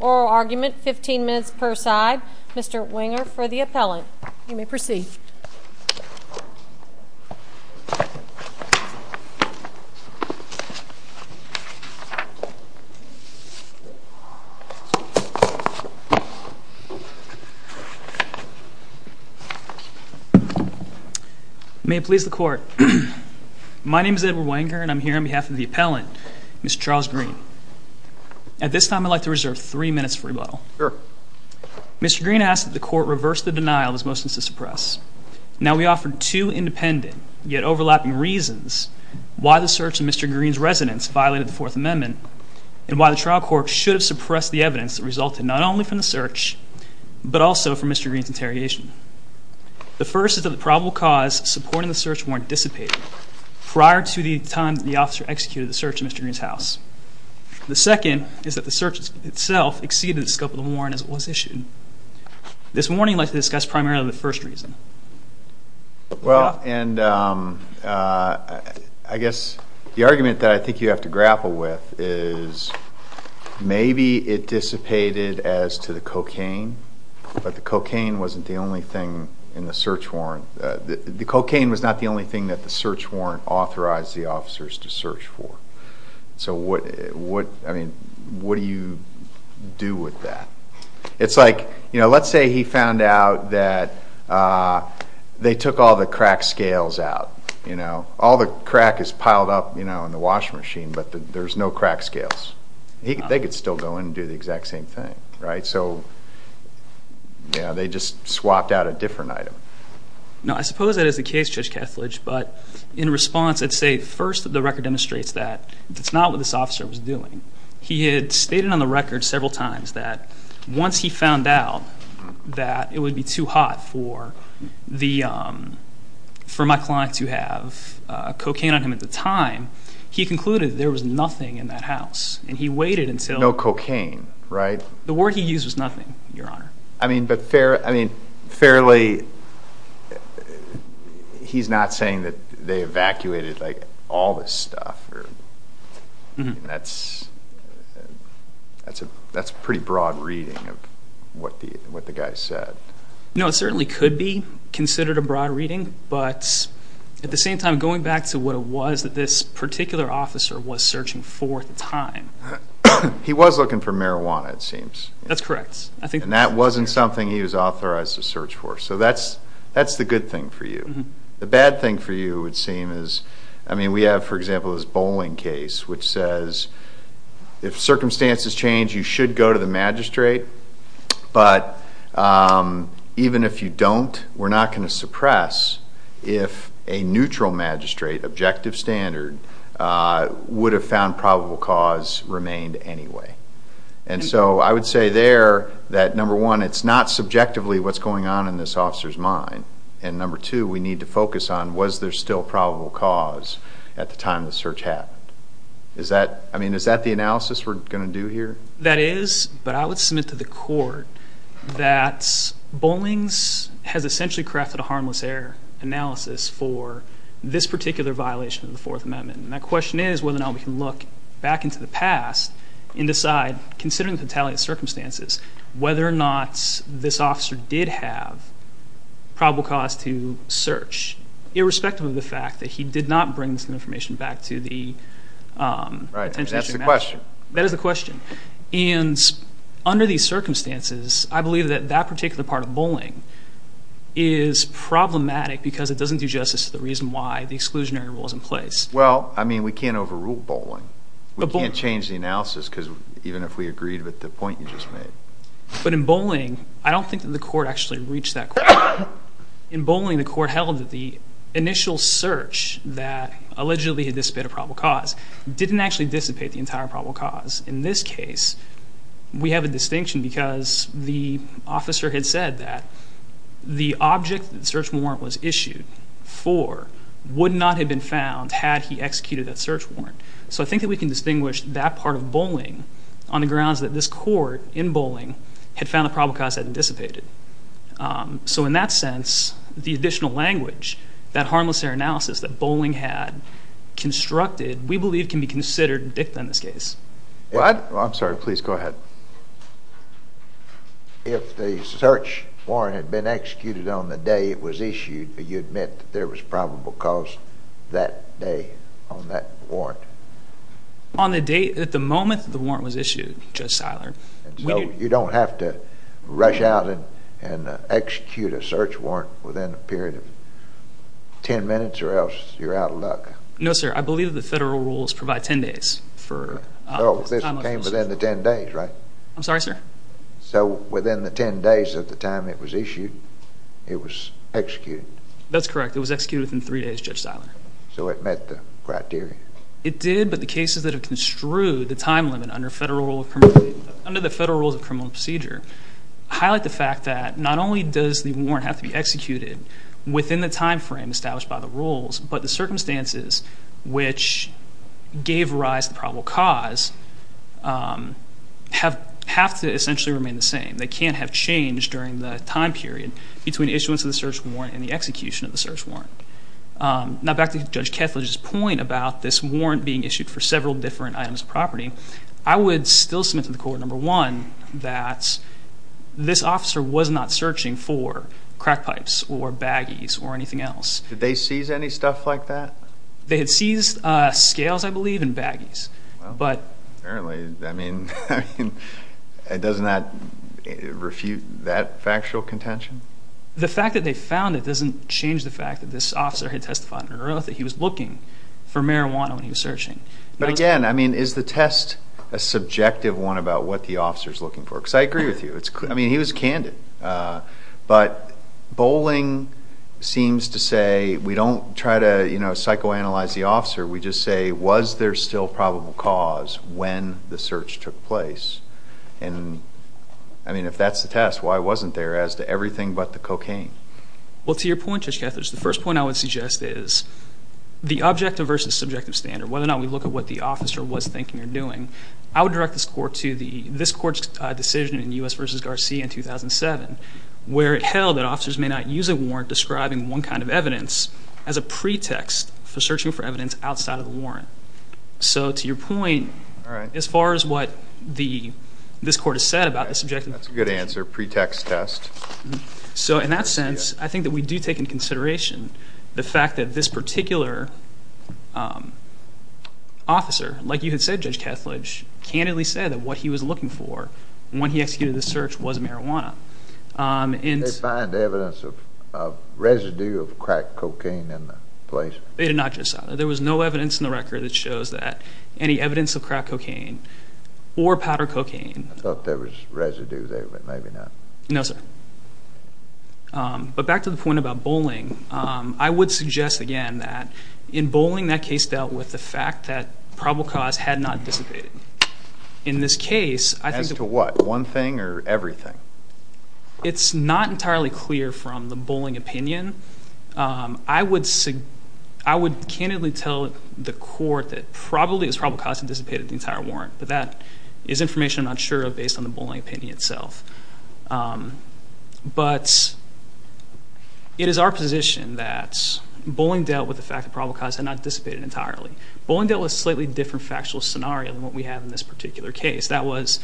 Oral argument, 15 minutes per side. Mr. Winger for the appellant. You may proceed. My name is Edward Winger, and I'm here on behalf of the appellant, Mr. Charles Green. At this time, I'd like to reserve three minutes for rebuttal. Mr. Green asked that the court reverse the denial of his motions to suppress. Now we offer two independent, yet overlapping reasons why the search of Mr. Green's residence violated the Fourth Amendment and why the trial court should have suppressed the evidence that resulted not only from the search, but also from Mr. Green's interrogation. The first is that the probable cause supporting the search warrant dissipated prior to the time that the officer executed the search of Mr. Green's house. The second is that the search itself exceeded the scope of the warrant as it was issued. This warning I'd like to discuss primarily for the first reason. Well, and I guess the argument that I think you have to grapple with is maybe it dissipated as to the cocaine, but the cocaine wasn't the only thing in the search warrant. The cocaine was not the only thing that the search warrant authorized the officers to search for. So what, I mean, what do you do with that? It's like, you know, let's say he found out that they took all the crack scales out, you know. All the crack is piled up, you know, in the washing machine, but there's no crack scales. They could still go in and do the exact same thing, right? So, you know, they just swapped out a different item. No, I suppose that is the case, Judge Kethledge, but in response I'd say first the record demonstrates that that's not what this officer was doing. He had stated on the record several times that once he found out that it would be too hot for my client to have cocaine on him at the time, he concluded there was nothing in that house, and he waited until- No cocaine, right? The word he used was nothing, Your Honor. I mean, but fairly, he's not saying that they evacuated, like, all this stuff. That's a pretty broad reading of what the guy said. No, it certainly could be considered a broad reading, but at the same time, going back to what it was that this particular officer was searching for at the time- He was looking for marijuana, it seems. That's correct. And that wasn't something he was authorized to search for, so that's the good thing for you. The bad thing for you would seem is, I mean, we have, for example, this bowling case, which says if circumstances change, you should go to the magistrate, but even if you don't, we're not going to suppress if a neutral magistrate, objective standard, would have found probable cause remained anyway. And so I would say there that, number one, it's not subjectively what's going on in this officer's mind, and number two, we need to focus on was there still probable cause at the time the search happened. I mean, is that the analysis we're going to do here? That is, but I would submit to the court that bowling has essentially crafted a harmless error analysis for this particular violation of the Fourth Amendment, and that question is whether or not we can look back into the past and decide, considering the retaliate circumstances, whether or not this officer did have probable cause to search, irrespective of the fact that he did not bring this information back to the- Right, that's the question. That is the question. And under these circumstances, I believe that that particular part of bowling is problematic because it doesn't do justice to the reason why the exclusionary rule is in place. Well, I mean, we can't overrule bowling. We can't change the analysis, even if we agreed with the point you just made. But in bowling, I don't think that the court actually reached that point. In bowling, the court held that the initial search that allegedly had dissipated probable cause didn't actually dissipate the entire probable cause. In this case, we have a distinction because the officer had said that the object that the search warrant was issued for would not have been found had he executed that search warrant. So I think that we can distinguish that part of bowling on the grounds that this court in bowling had found the probable cause hadn't dissipated. So in that sense, the additional language, that harmless error analysis that bowling had constructed, we believe can be considered dicta in this case. Well, I'm sorry. Please go ahead. If the search warrant had been executed on the day it was issued, do you admit that there was probable cause that day on that warrant? On the day, at the moment the warrant was issued, Judge Seiler. So you don't have to rush out and execute a search warrant within a period of 10 minutes, or else you're out of luck. No, sir. I believe the federal rules provide 10 days. So this came within the 10 days, right? I'm sorry, sir? So within the 10 days of the time it was issued, it was executed? That's correct. It was executed within three days, Judge Seiler. So it met the criteria? It did, but the cases that have construed the time limit under the federal rules of criminal procedure highlight the fact that not only does the warrant have to be executed within the time frame established by the rules, but the circumstances which gave rise to the probable cause have to essentially remain the same. They can't have changed during the time period between the issuance of the search warrant and the execution of the search warrant. Now, back to Judge Kethledge's point about this warrant being issued for several different items of property, I would still submit to the court, number one, that this officer was not searching for crack pipes or baggies or anything else. Did they seize any stuff like that? They had seized scales, I believe, and baggies. Apparently, I mean, doesn't that refute that factual contention? The fact that they found it doesn't change the fact that this officer had testified earlier that he was looking for marijuana when he was searching. But again, I mean, is the test a subjective one about what the officer is looking for? Because I agree with you. I mean, he was candid. But bowling seems to say we don't try to psychoanalyze the officer. We just say, was there still probable cause when the search took place? And, I mean, if that's the test, why wasn't there as to everything but the cocaine? Well, to your point, Judge Kethledge, the first point I would suggest is the objective versus subjective standard, whether or not we look at what the officer was thinking or doing, I would direct this court to this court's decision in U.S. v. Garcia in 2007 where it held that officers may not use a warrant describing one kind of evidence as a pretext for searching for evidence outside of the warrant. So to your point, as far as what this court has said about the subjective test. That's a good answer, pretext test. So in that sense, I think that we do take into consideration the fact that this particular officer, like you had said, Judge Kethledge, candidly said that what he was looking for when he executed the search was marijuana. Did they find evidence of residue of crack cocaine in the place? They did not, Judge Southerly. There was no evidence in the record that shows that any evidence of crack cocaine or powder cocaine. I thought there was residue there, but maybe not. No, sir. But back to the point about bowling. I would suggest, again, that in bowling that case dealt with the fact that probable cause had not dissipated. In this case, I think that As to what, one thing or everything? It's not entirely clear from the bowling opinion. I would candidly tell the court that probably it was probable cause that dissipated the entire warrant, but that is information I'm not sure of based on the bowling opinion itself. But it is our position that bowling dealt with the fact that probable cause had not dissipated entirely. Bowling dealt with a slightly different factual scenario than what we have in this particular case. That was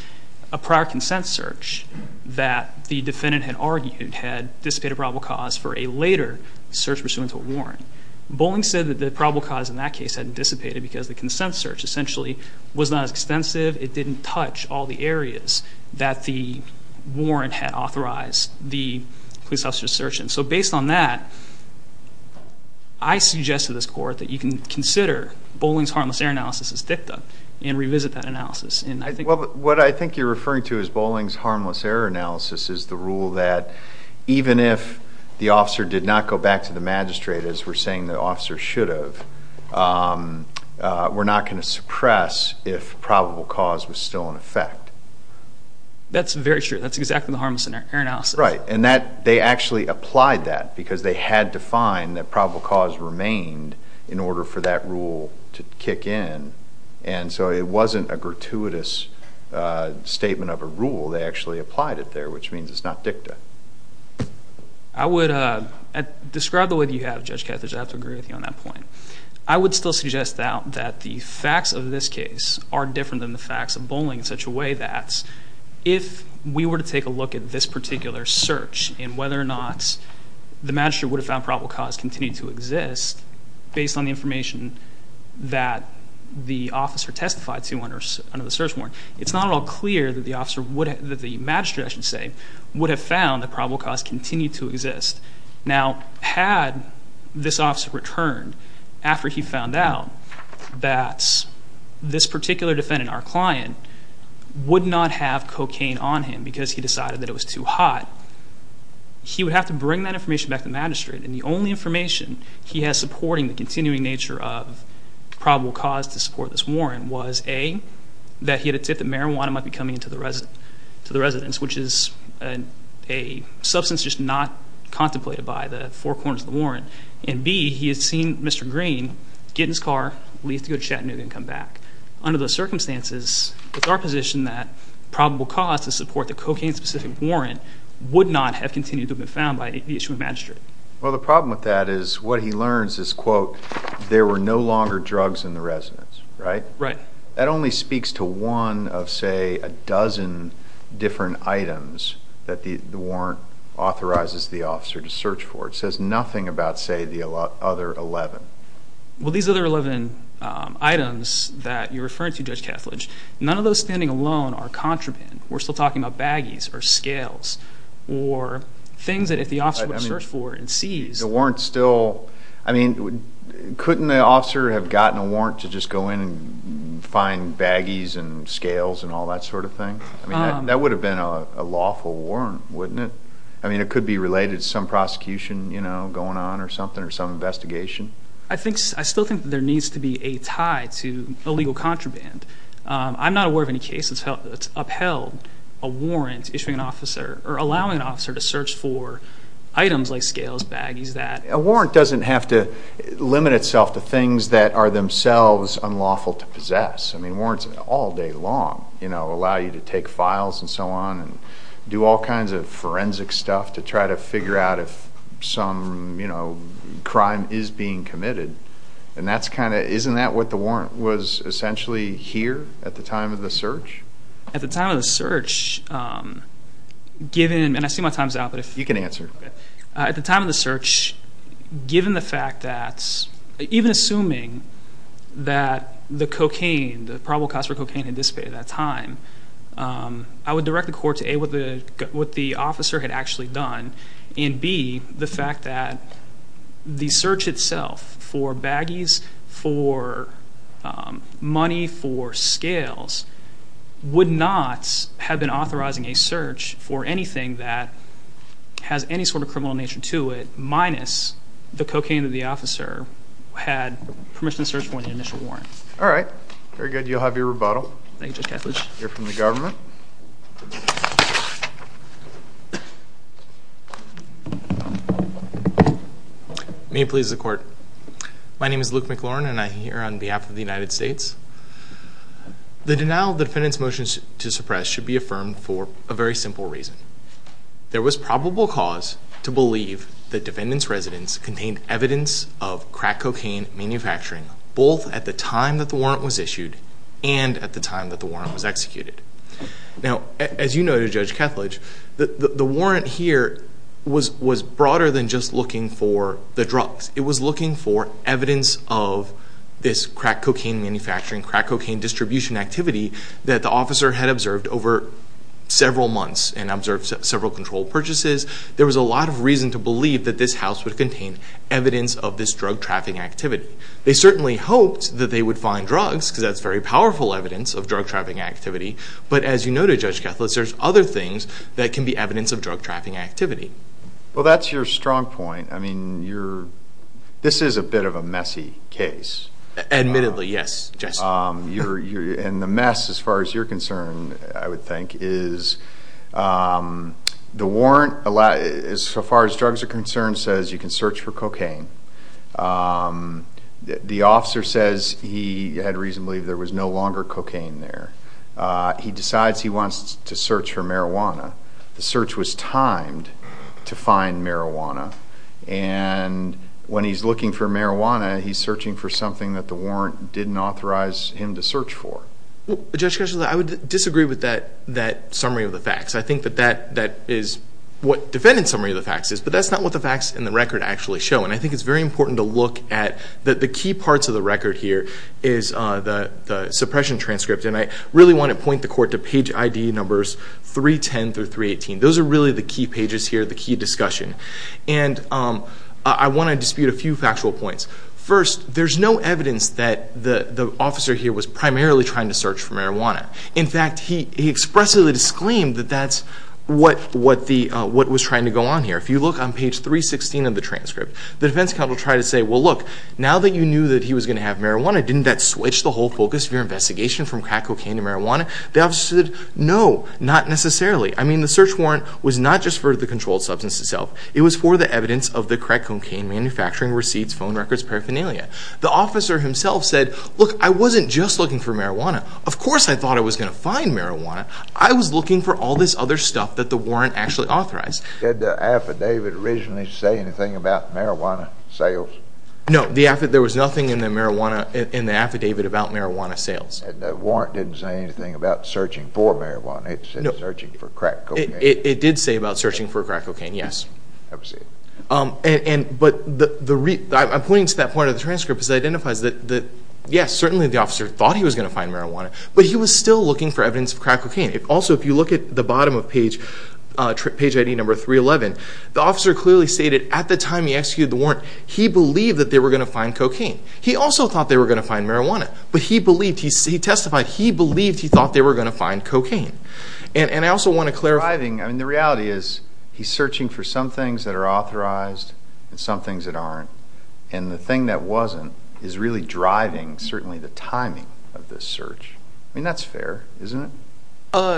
a prior consent search that the defendant had argued had dissipated probable cause for a later search pursuant to a warrant. Bowling said that the probable cause in that case hadn't dissipated because the consent search essentially was not as extensive. It didn't touch all the areas that the warrant had authorized the police officer to search in. Based on that, I suggest to this court that you can consider bowling's harmless error analysis as dicta and revisit that analysis. What I think you're referring to as bowling's harmless error analysis is the rule that even if the officer did not go back to the magistrate, as we're saying the officer should have, we're not going to suppress if probable cause was still in effect. That's very true. That's exactly the harmless error analysis. Right. And they actually applied that because they had to find that probable cause remained in order for that rule to kick in. And so it wasn't a gratuitous statement of a rule. They actually applied it there, which means it's not dicta. I would describe the way that you have, Judge Catheridge. I have to agree with you on that point. I would still suggest that the facts of this case are different than the facts of bowling in such a way that if we were to take a look at this particular search and whether or not the magistrate would have found probable cause continued to exist based on the information that the officer testified to under the search warrant, it's not at all clear that the magistrate, I should say, would have found that probable cause continued to exist. Now, had this officer returned after he found out that this particular defendant, our client, would not have cocaine on him because he decided that it was too hot, he would have to bring that information back to the magistrate. And the only information he has supporting the continuing nature of probable cause to support this warrant was A, that he had a tip that marijuana might be coming into the residence, which is a substance just not contemplated by the four corners of the warrant. And B, he had seen Mr. Green get in his car, leave to go to Chattanooga and come back. Under those circumstances, it's our position that probable cause to support the cocaine-specific warrant would not have continued to have been found by the issuing magistrate. Well, the problem with that is what he learns is, quote, there were no longer drugs in the residence, right? Right. That only speaks to one of, say, a dozen different items that the warrant authorizes the officer to search for. It says nothing about, say, the other 11. Well, these other 11 items that you're referring to, Judge Kethledge, none of those standing alone are contraband. We're still talking about baggies or scales or things that if the officer were to search for and seize. I mean, couldn't the officer have gotten a warrant to just go in and find baggies and scales and all that sort of thing? I mean, that would have been a lawful warrant, wouldn't it? I mean, it could be related to some prosecution, you know, going on or something or some investigation. I still think that there needs to be a tie to illegal contraband. I'm not aware of any case that's upheld a warrant issuing an officer or allowing an officer to search for items like scales, baggies, that. A warrant doesn't have to limit itself to things that are themselves unlawful to possess. I mean, warrants all day long, you know, allow you to take files and so on and do all kinds of forensic stuff to try to figure out if some, you know, crime is being committed. And that's kind of, isn't that what the warrant was essentially here at the time of the search? At the time of the search, given, and I see my time's up. You can answer. At the time of the search, given the fact that, even assuming that the cocaine, the probable cause for cocaine had dissipated at that time, I would direct the court to A, what the officer had actually done, and B, the fact that the search itself for baggies, for money, for scales, would not have been authorizing a search for anything that has any sort of criminal nature to it, minus the cocaine that the officer had permission to search for in the initial warrant. All right. Very good. You'll have your rebuttal. Thank you, Judge Catledge. We'll hear from the government. May it please the Court. My name is Luke McLaurin, and I'm here on behalf of the United States. The denial of the defendant's motion to suppress should be affirmed for a very simple reason. There was probable cause to believe the defendant's residence contained evidence of crack cocaine manufacturing, both at the time that the warrant was issued and at the time that the warrant was executed. Now, as you noted, Judge Catledge, the warrant here was broader than just looking for the drugs. It was looking for evidence of this crack cocaine manufacturing, crack cocaine distribution activity that the officer had observed over several months and observed several controlled purchases. There was a lot of reason to believe that this house would contain evidence of this drug trafficking activity. They certainly hoped that they would find drugs, because that's very powerful evidence of drug trafficking activity. But as you noted, Judge Catledge, there's other things that can be evidence of drug trafficking activity. Well, that's your strong point. I mean, this is a bit of a messy case. Admittedly, yes. And the mess, as far as you're concerned, I would think, is the warrant, as far as drugs are concerned, the warrant says you can search for cocaine. The officer says he had reason to believe there was no longer cocaine there. He decides he wants to search for marijuana. The search was timed to find marijuana. And when he's looking for marijuana, he's searching for something that the warrant didn't authorize him to search for. Judge Catledge, I would disagree with that summary of the facts. I think that that is what defendant's summary of the facts is, but that's not what the facts in the record actually show. And I think it's very important to look at the key parts of the record here is the suppression transcript. And I really want to point the court to page ID numbers 310 through 318. Those are really the key pages here, the key discussion. And I want to dispute a few factual points. First, there's no evidence that the officer here was primarily trying to search for marijuana. In fact, he expressly disclaimed that that's what was trying to go on here. If you look on page 316 of the transcript, the defense counsel tried to say, well, look, now that you knew that he was going to have marijuana, didn't that switch the whole focus of your investigation from crack cocaine to marijuana? The officer said, no, not necessarily. I mean, the search warrant was not just for the controlled substance itself. It was for the evidence of the crack cocaine manufacturing receipts, phone records, paraphernalia. The officer himself said, look, I wasn't just looking for marijuana. Of course I thought I was going to find marijuana. I was looking for all this other stuff that the warrant actually authorized. Did the affidavit originally say anything about marijuana sales? No, there was nothing in the affidavit about marijuana sales. And the warrant didn't say anything about searching for marijuana. It said searching for crack cocaine. It did say about searching for crack cocaine, yes. Have a seat. But I'm pointing to that part of the transcript because it identifies that, yes, certainly the officer thought he was going to find marijuana, but he was still looking for evidence of crack cocaine. Also, if you look at the bottom of page ID number 311, the officer clearly stated at the time he executed the warrant, he believed that they were going to find cocaine. He also thought they were going to find marijuana. But he testified he believed he thought they were going to find cocaine. And I also want to clarify. Driving, I mean, the reality is he's searching for some things that are authorized and some things that aren't. And the thing that wasn't is really driving, certainly, the timing of this search. I mean, that's fair, isn't it?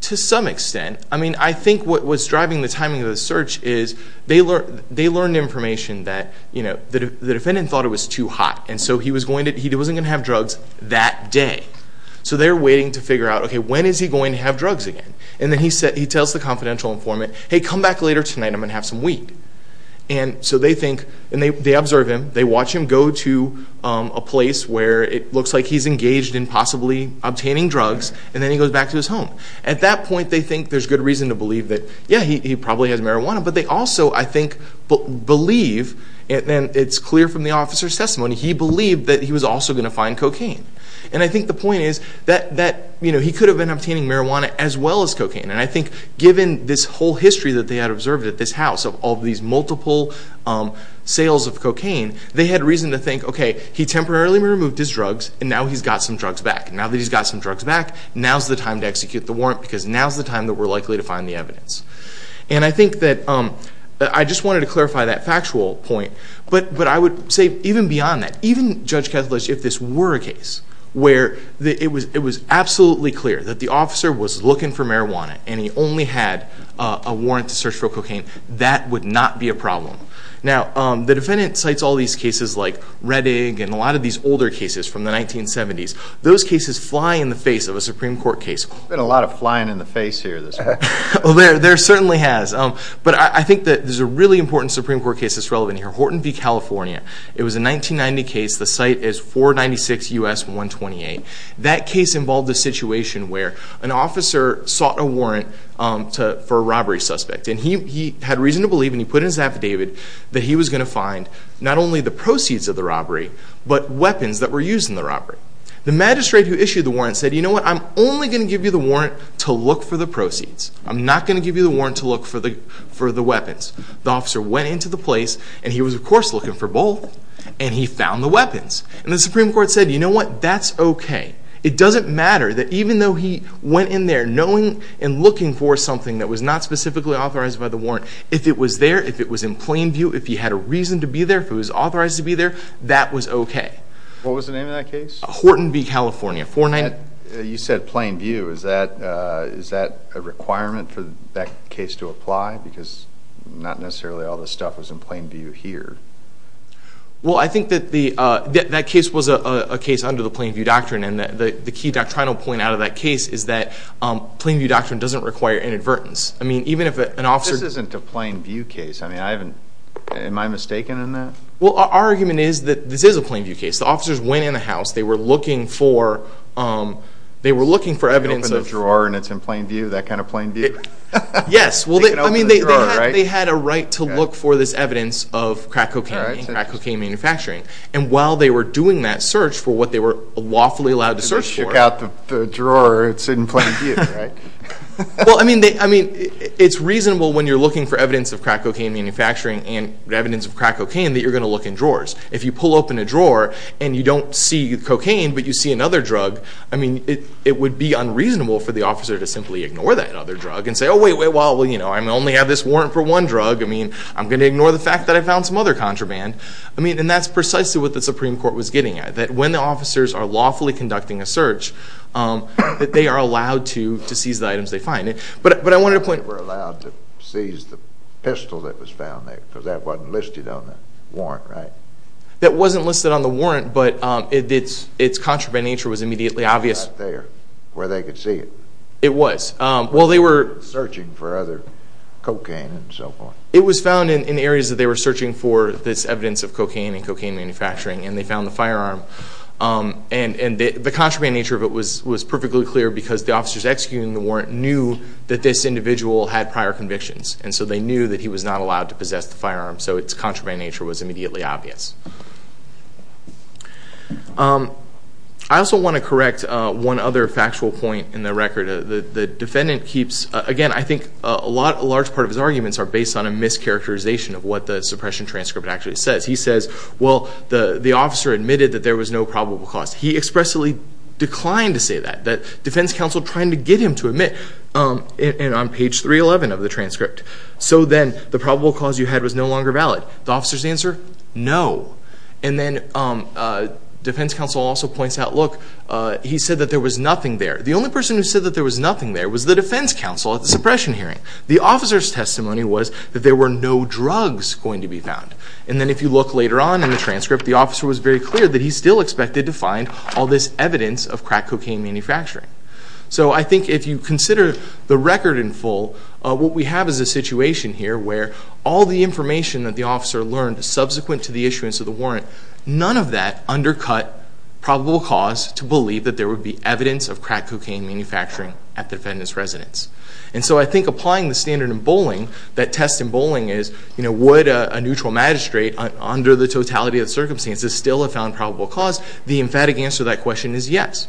To some extent. I mean, I think what's driving the timing of the search is they learned information that, you know, the defendant thought it was too hot, and so he wasn't going to have drugs that day. So they're waiting to figure out, okay, when is he going to have drugs again? And then he tells the confidential informant, hey, come back later tonight. I'm going to have some weed. And so they think and they observe him. They watch him go to a place where it looks like he's engaged in possibly obtaining drugs, and then he goes back to his home. At that point, they think there's good reason to believe that, yeah, he probably has marijuana. But they also, I think, believe, and it's clear from the officer's testimony, he believed that he was also going to find cocaine. And I think the point is that, you know, he could have been obtaining marijuana as well as cocaine. And I think given this whole history that they had observed at this house of all these multiple sales of cocaine, they had reason to think, okay, he temporarily removed his drugs, and now he's got some drugs back. Now that he's got some drugs back, now's the time to execute the warrant because now's the time that we're likely to find the evidence. And I think that I just wanted to clarify that factual point. But I would say even beyond that, even Judge Kethledge, if this were a case where it was absolutely clear that the officer was looking for marijuana and he only had a warrant to search for cocaine, that would not be a problem. Now, the defendant cites all these cases like Rettig and a lot of these older cases from the 1970s. Those cases fly in the face of a Supreme Court case. There's been a lot of flying in the face here this week. There certainly has. But I think that there's a really important Supreme Court case that's relevant here, Horton v. California. It was a 1990 case. The site is 496 U.S. 128. That case involved a situation where an officer sought a warrant for a robbery suspect. And he had reason to believe, and he put in his affidavit, that he was going to find not only the proceeds of the robbery but weapons that were used in the robbery. The magistrate who issued the warrant said, you know what, I'm only going to give you the warrant to look for the proceeds. I'm not going to give you the warrant to look for the weapons. The officer went into the place, and he was, of course, looking for both, and he found the weapons. And the Supreme Court said, you know what, that's okay. It doesn't matter that even though he went in there knowing and looking for something that was not specifically authorized by the warrant, if it was there, if it was in plain view, if he had a reason to be there, if it was authorized to be there, that was okay. What was the name of that case? Horton v. California. You said plain view. Is that a requirement for that case to apply? Because not necessarily all the stuff was in plain view here. Well, I think that that case was a case under the plain view doctrine, and the key doctrinal point out of that case is that plain view doctrine doesn't require inadvertence. I mean, even if an officer This isn't a plain view case. I mean, am I mistaken in that? Well, our argument is that this is a plain view case. The officers went in the house. They were looking for evidence of They open the drawer and it's in plain view? That kind of plain view? Yes. Well, I mean, they had a right to look for this evidence of crack cocaine and crack cocaine manufacturing, and while they were doing that search for what they were lawfully allowed to search for They shook out the drawer. It's in plain view, right? Well, I mean, it's reasonable when you're looking for evidence of crack cocaine manufacturing and evidence of crack cocaine that you're going to look in drawers. If you pull open a drawer and you don't see cocaine but you see another drug, I mean, it would be unreasonable for the officer to simply ignore that other drug and say, oh, wait, wait, well, you know, I only have this warrant for one drug. I mean, I'm going to ignore the fact that I found some other contraband. I mean, and that's precisely what the Supreme Court was getting at, that when the officers are lawfully conducting a search, that they are allowed to seize the items they find. But I wanted to point They were allowed to seize the pistol that was found there because that wasn't listed on the warrant, right? That wasn't listed on the warrant, but its contraband nature was immediately obvious. It was not there where they could see it. It was. While they were Searching for other cocaine and so forth. It was found in areas that they were searching for this evidence of cocaine and cocaine manufacturing, and they found the firearm. And the contraband nature of it was perfectly clear because the officers executing the warrant knew that this individual had prior convictions, and so they knew that he was not allowed to possess the firearm, so its contraband nature was immediately obvious. I also want to correct one other factual point in the record. The defendant keeps Again, I think a large part of his arguments are based on a mischaracterization of what the suppression transcript actually says. He says, well, the officer admitted that there was no probable cause. He expressly declined to say that. The defense counsel tried to get him to admit it on page 311 of the transcript. So then the probable cause you had was no longer valid. The officer's answer? No. And then defense counsel also points out, look, he said that there was nothing there. The only person who said that there was nothing there was the defense counsel at the suppression hearing. The officer's testimony was that there were no drugs going to be found. And then if you look later on in the transcript, the officer was very clear that he still expected to find all this evidence of crack cocaine manufacturing. So I think if you consider the record in full, what we have is a situation here where all the information that the officer learned subsequent to the issuance of the warrant, none of that undercut probable cause to believe that there would be evidence of crack cocaine manufacturing at the defendant's residence. And so I think applying the standard in bowling, that test in bowling is, would a neutral magistrate under the totality of the circumstances still have found probable cause? The emphatic answer to that question is yes.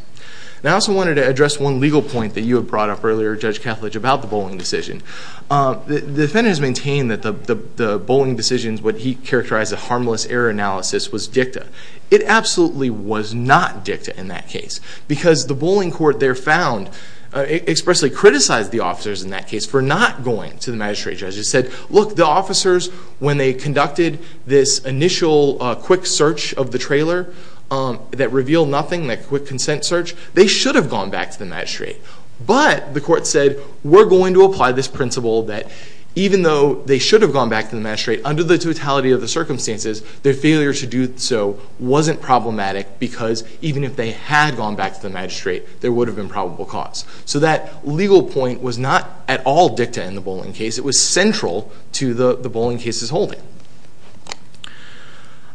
And I also wanted to address one legal point that you had brought up earlier, Judge Kethledge, about the bowling decision. The defendant has maintained that the bowling decision, what he characterized as a harmless error analysis, was dicta. It absolutely was not dicta in that case because the bowling court there found, expressly criticized the officers in that case for not going to the magistrate judge. It said, look, the officers, when they conducted this initial quick search of the trailer that revealed nothing, that quick consent search, they should have gone back to the magistrate. But the court said, we're going to apply this principle that even though they should have gone back to the magistrate, under the totality of the circumstances, their failure to do so wasn't problematic because even if they had gone back to the magistrate, there would have been probable cause. So that legal point was not at all dicta in the bowling case. It was central to the bowling case's holding.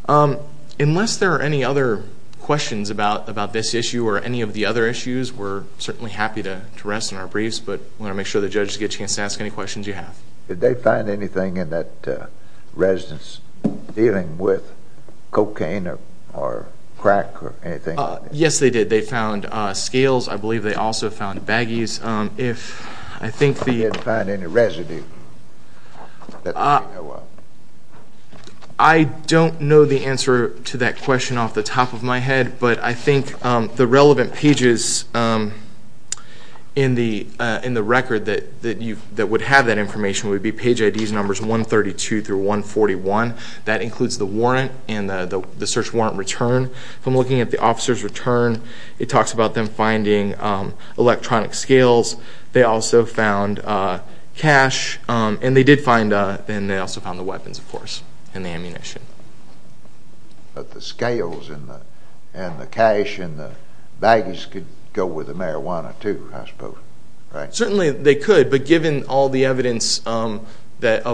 Unless there are any other questions about this issue or any of the other issues, we're certainly happy to rest on our briefs, but we want to make sure the judges get a chance to ask any questions you have. Did they find anything in that residence dealing with cocaine or crack or anything? Yes, they did. They found scales. I believe they also found baggies. Did they find any residue? I don't know the answer to that question off the top of my head, but I think the relevant pages in the record that would have that information would be page IDs numbers 132 through 141. That includes the warrant and the search warrant return. If I'm looking at the officer's return, it talks about them finding electronic scales. They also found cash, and they did find the weapons, of course, and the ammunition. But the scales and the cash and the baggies could go with the marijuana too, I suppose, right? Certainly they could, but given all the evidence of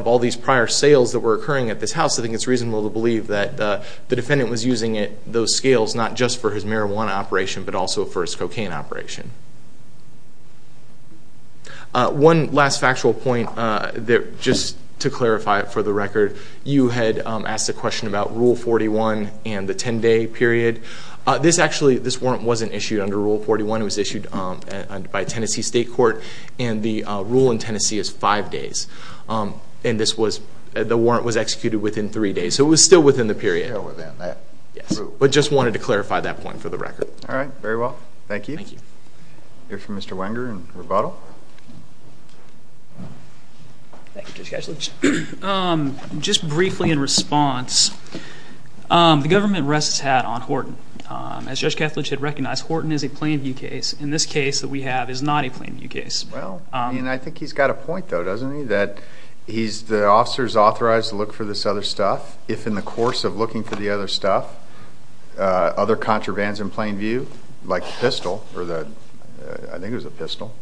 all these prior sales that were occurring at this house, I think it's reasonable to believe that the defendant was using those scales not just for his marijuana operation but also for his cocaine operation. One last factual point, just to clarify it for the record, you had asked a question about Rule 41 and the 10-day period. This warrant wasn't issued under Rule 41. It was issued by a Tennessee state court, and the rule in Tennessee is five days. And the warrant was executed within three days, so it was still within the period. Still within that rule. Yes. But just wanted to clarify that point for the record. All right. Very well. Thank you. Thank you. We'll hear from Mr. Wenger in rebuttal. Thank you, Judge Kethledge. Just briefly in response, the government rests its hat on Horton. As Judge Kethledge had recognized, Horton is a plain view case. And this case that we have is not a plain view case. Well, I think he's got a point, though, doesn't he, that the officer is authorized to look for this other stuff. If in the course of looking for the other stuff, other contravans in plain view, like the pistol, or I think it was a pistol,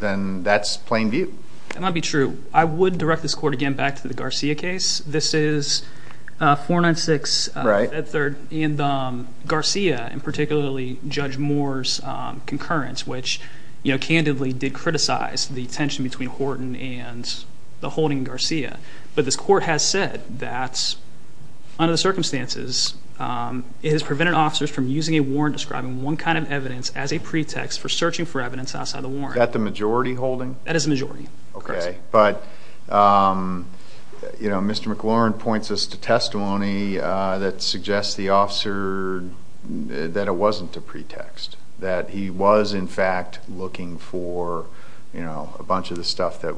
then that's plain view. That might be true. I would direct this court again back to the Garcia case. This is 496 Fed Third and Garcia, and particularly Judge Moore's concurrence, which candidly did criticize the tension between Horton and the holding in Garcia. But this court has said that, under the circumstances, it has prevented officers from using a warrant describing one kind of evidence as a pretext for searching for evidence outside the warrant. Is that the majority holding? That is the majority. Okay. But, you know, Mr. McLaurin points us to testimony that suggests the officer that it wasn't a pretext, that he was, in fact, looking for a bunch of the stuff that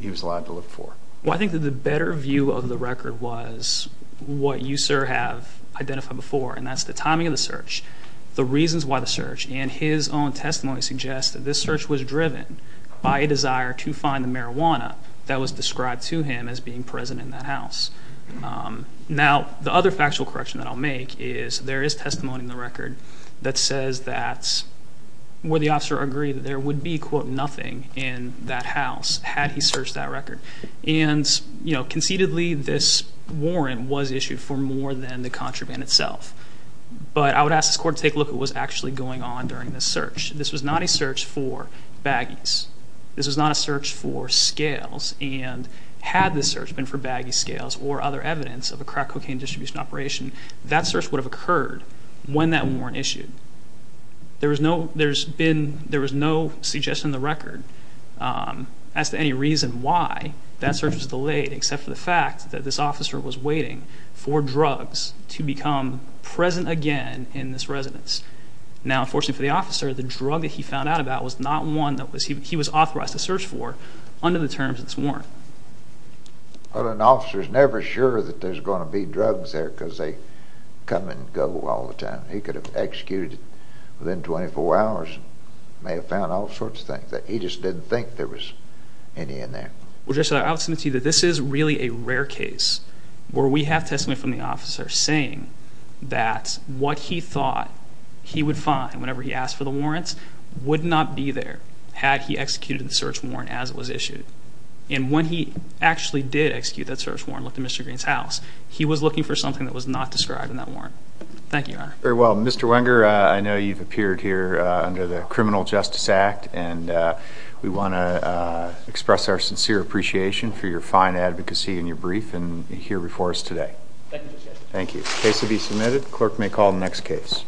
he was allowed to look for. Well, I think that the better view of the record was what you, sir, have identified before, and that's the timing of the search, the reasons why the search, and his own testimony suggests that this search was driven by a desire to find the marijuana that was described to him as being present in that house. Now, the other factual correction that I'll make is there is testimony in the record that says that, where the officer agreed that there would be, quote, nothing in that house had he searched that record. And, you know, conceitedly, this warrant was issued for more than the contraband itself. But I would ask this court to take a look at what was actually going on during this search. This was not a search for baggies. This was not a search for scales. And had this search been for baggy scales or other evidence of a crack cocaine distribution operation, that search would have occurred when that warrant issued. There was no suggestion in the record as to any reason why that search was delayed, except for the fact that this officer was waiting for drugs to become present again in this residence. Now, unfortunately for the officer, the drug that he found out about was not one that he was authorized to search for under the terms of this warrant. Well, an officer is never sure that there's going to be drugs there because they come and go all the time. He could have executed it within 24 hours and may have found all sorts of things. He just didn't think there was any in there. I would submit to you that this is really a rare case where we have testimony from the officer saying that what he thought he would find whenever he asked for the warrants would not be there had he executed the search warrant as it was issued. And when he actually did execute that search warrant and looked in Mr. Green's house, he was looking for something that was not described in that warrant. Thank you, Your Honor. Very well. Mr. Wenger, I know you've appeared here under the Criminal Justice Act, and we want to express our sincere appreciation for your fine advocacy in your brief and here before us today. Thank you, Justice. Thank you. Case to be submitted. Clerk may call the next case.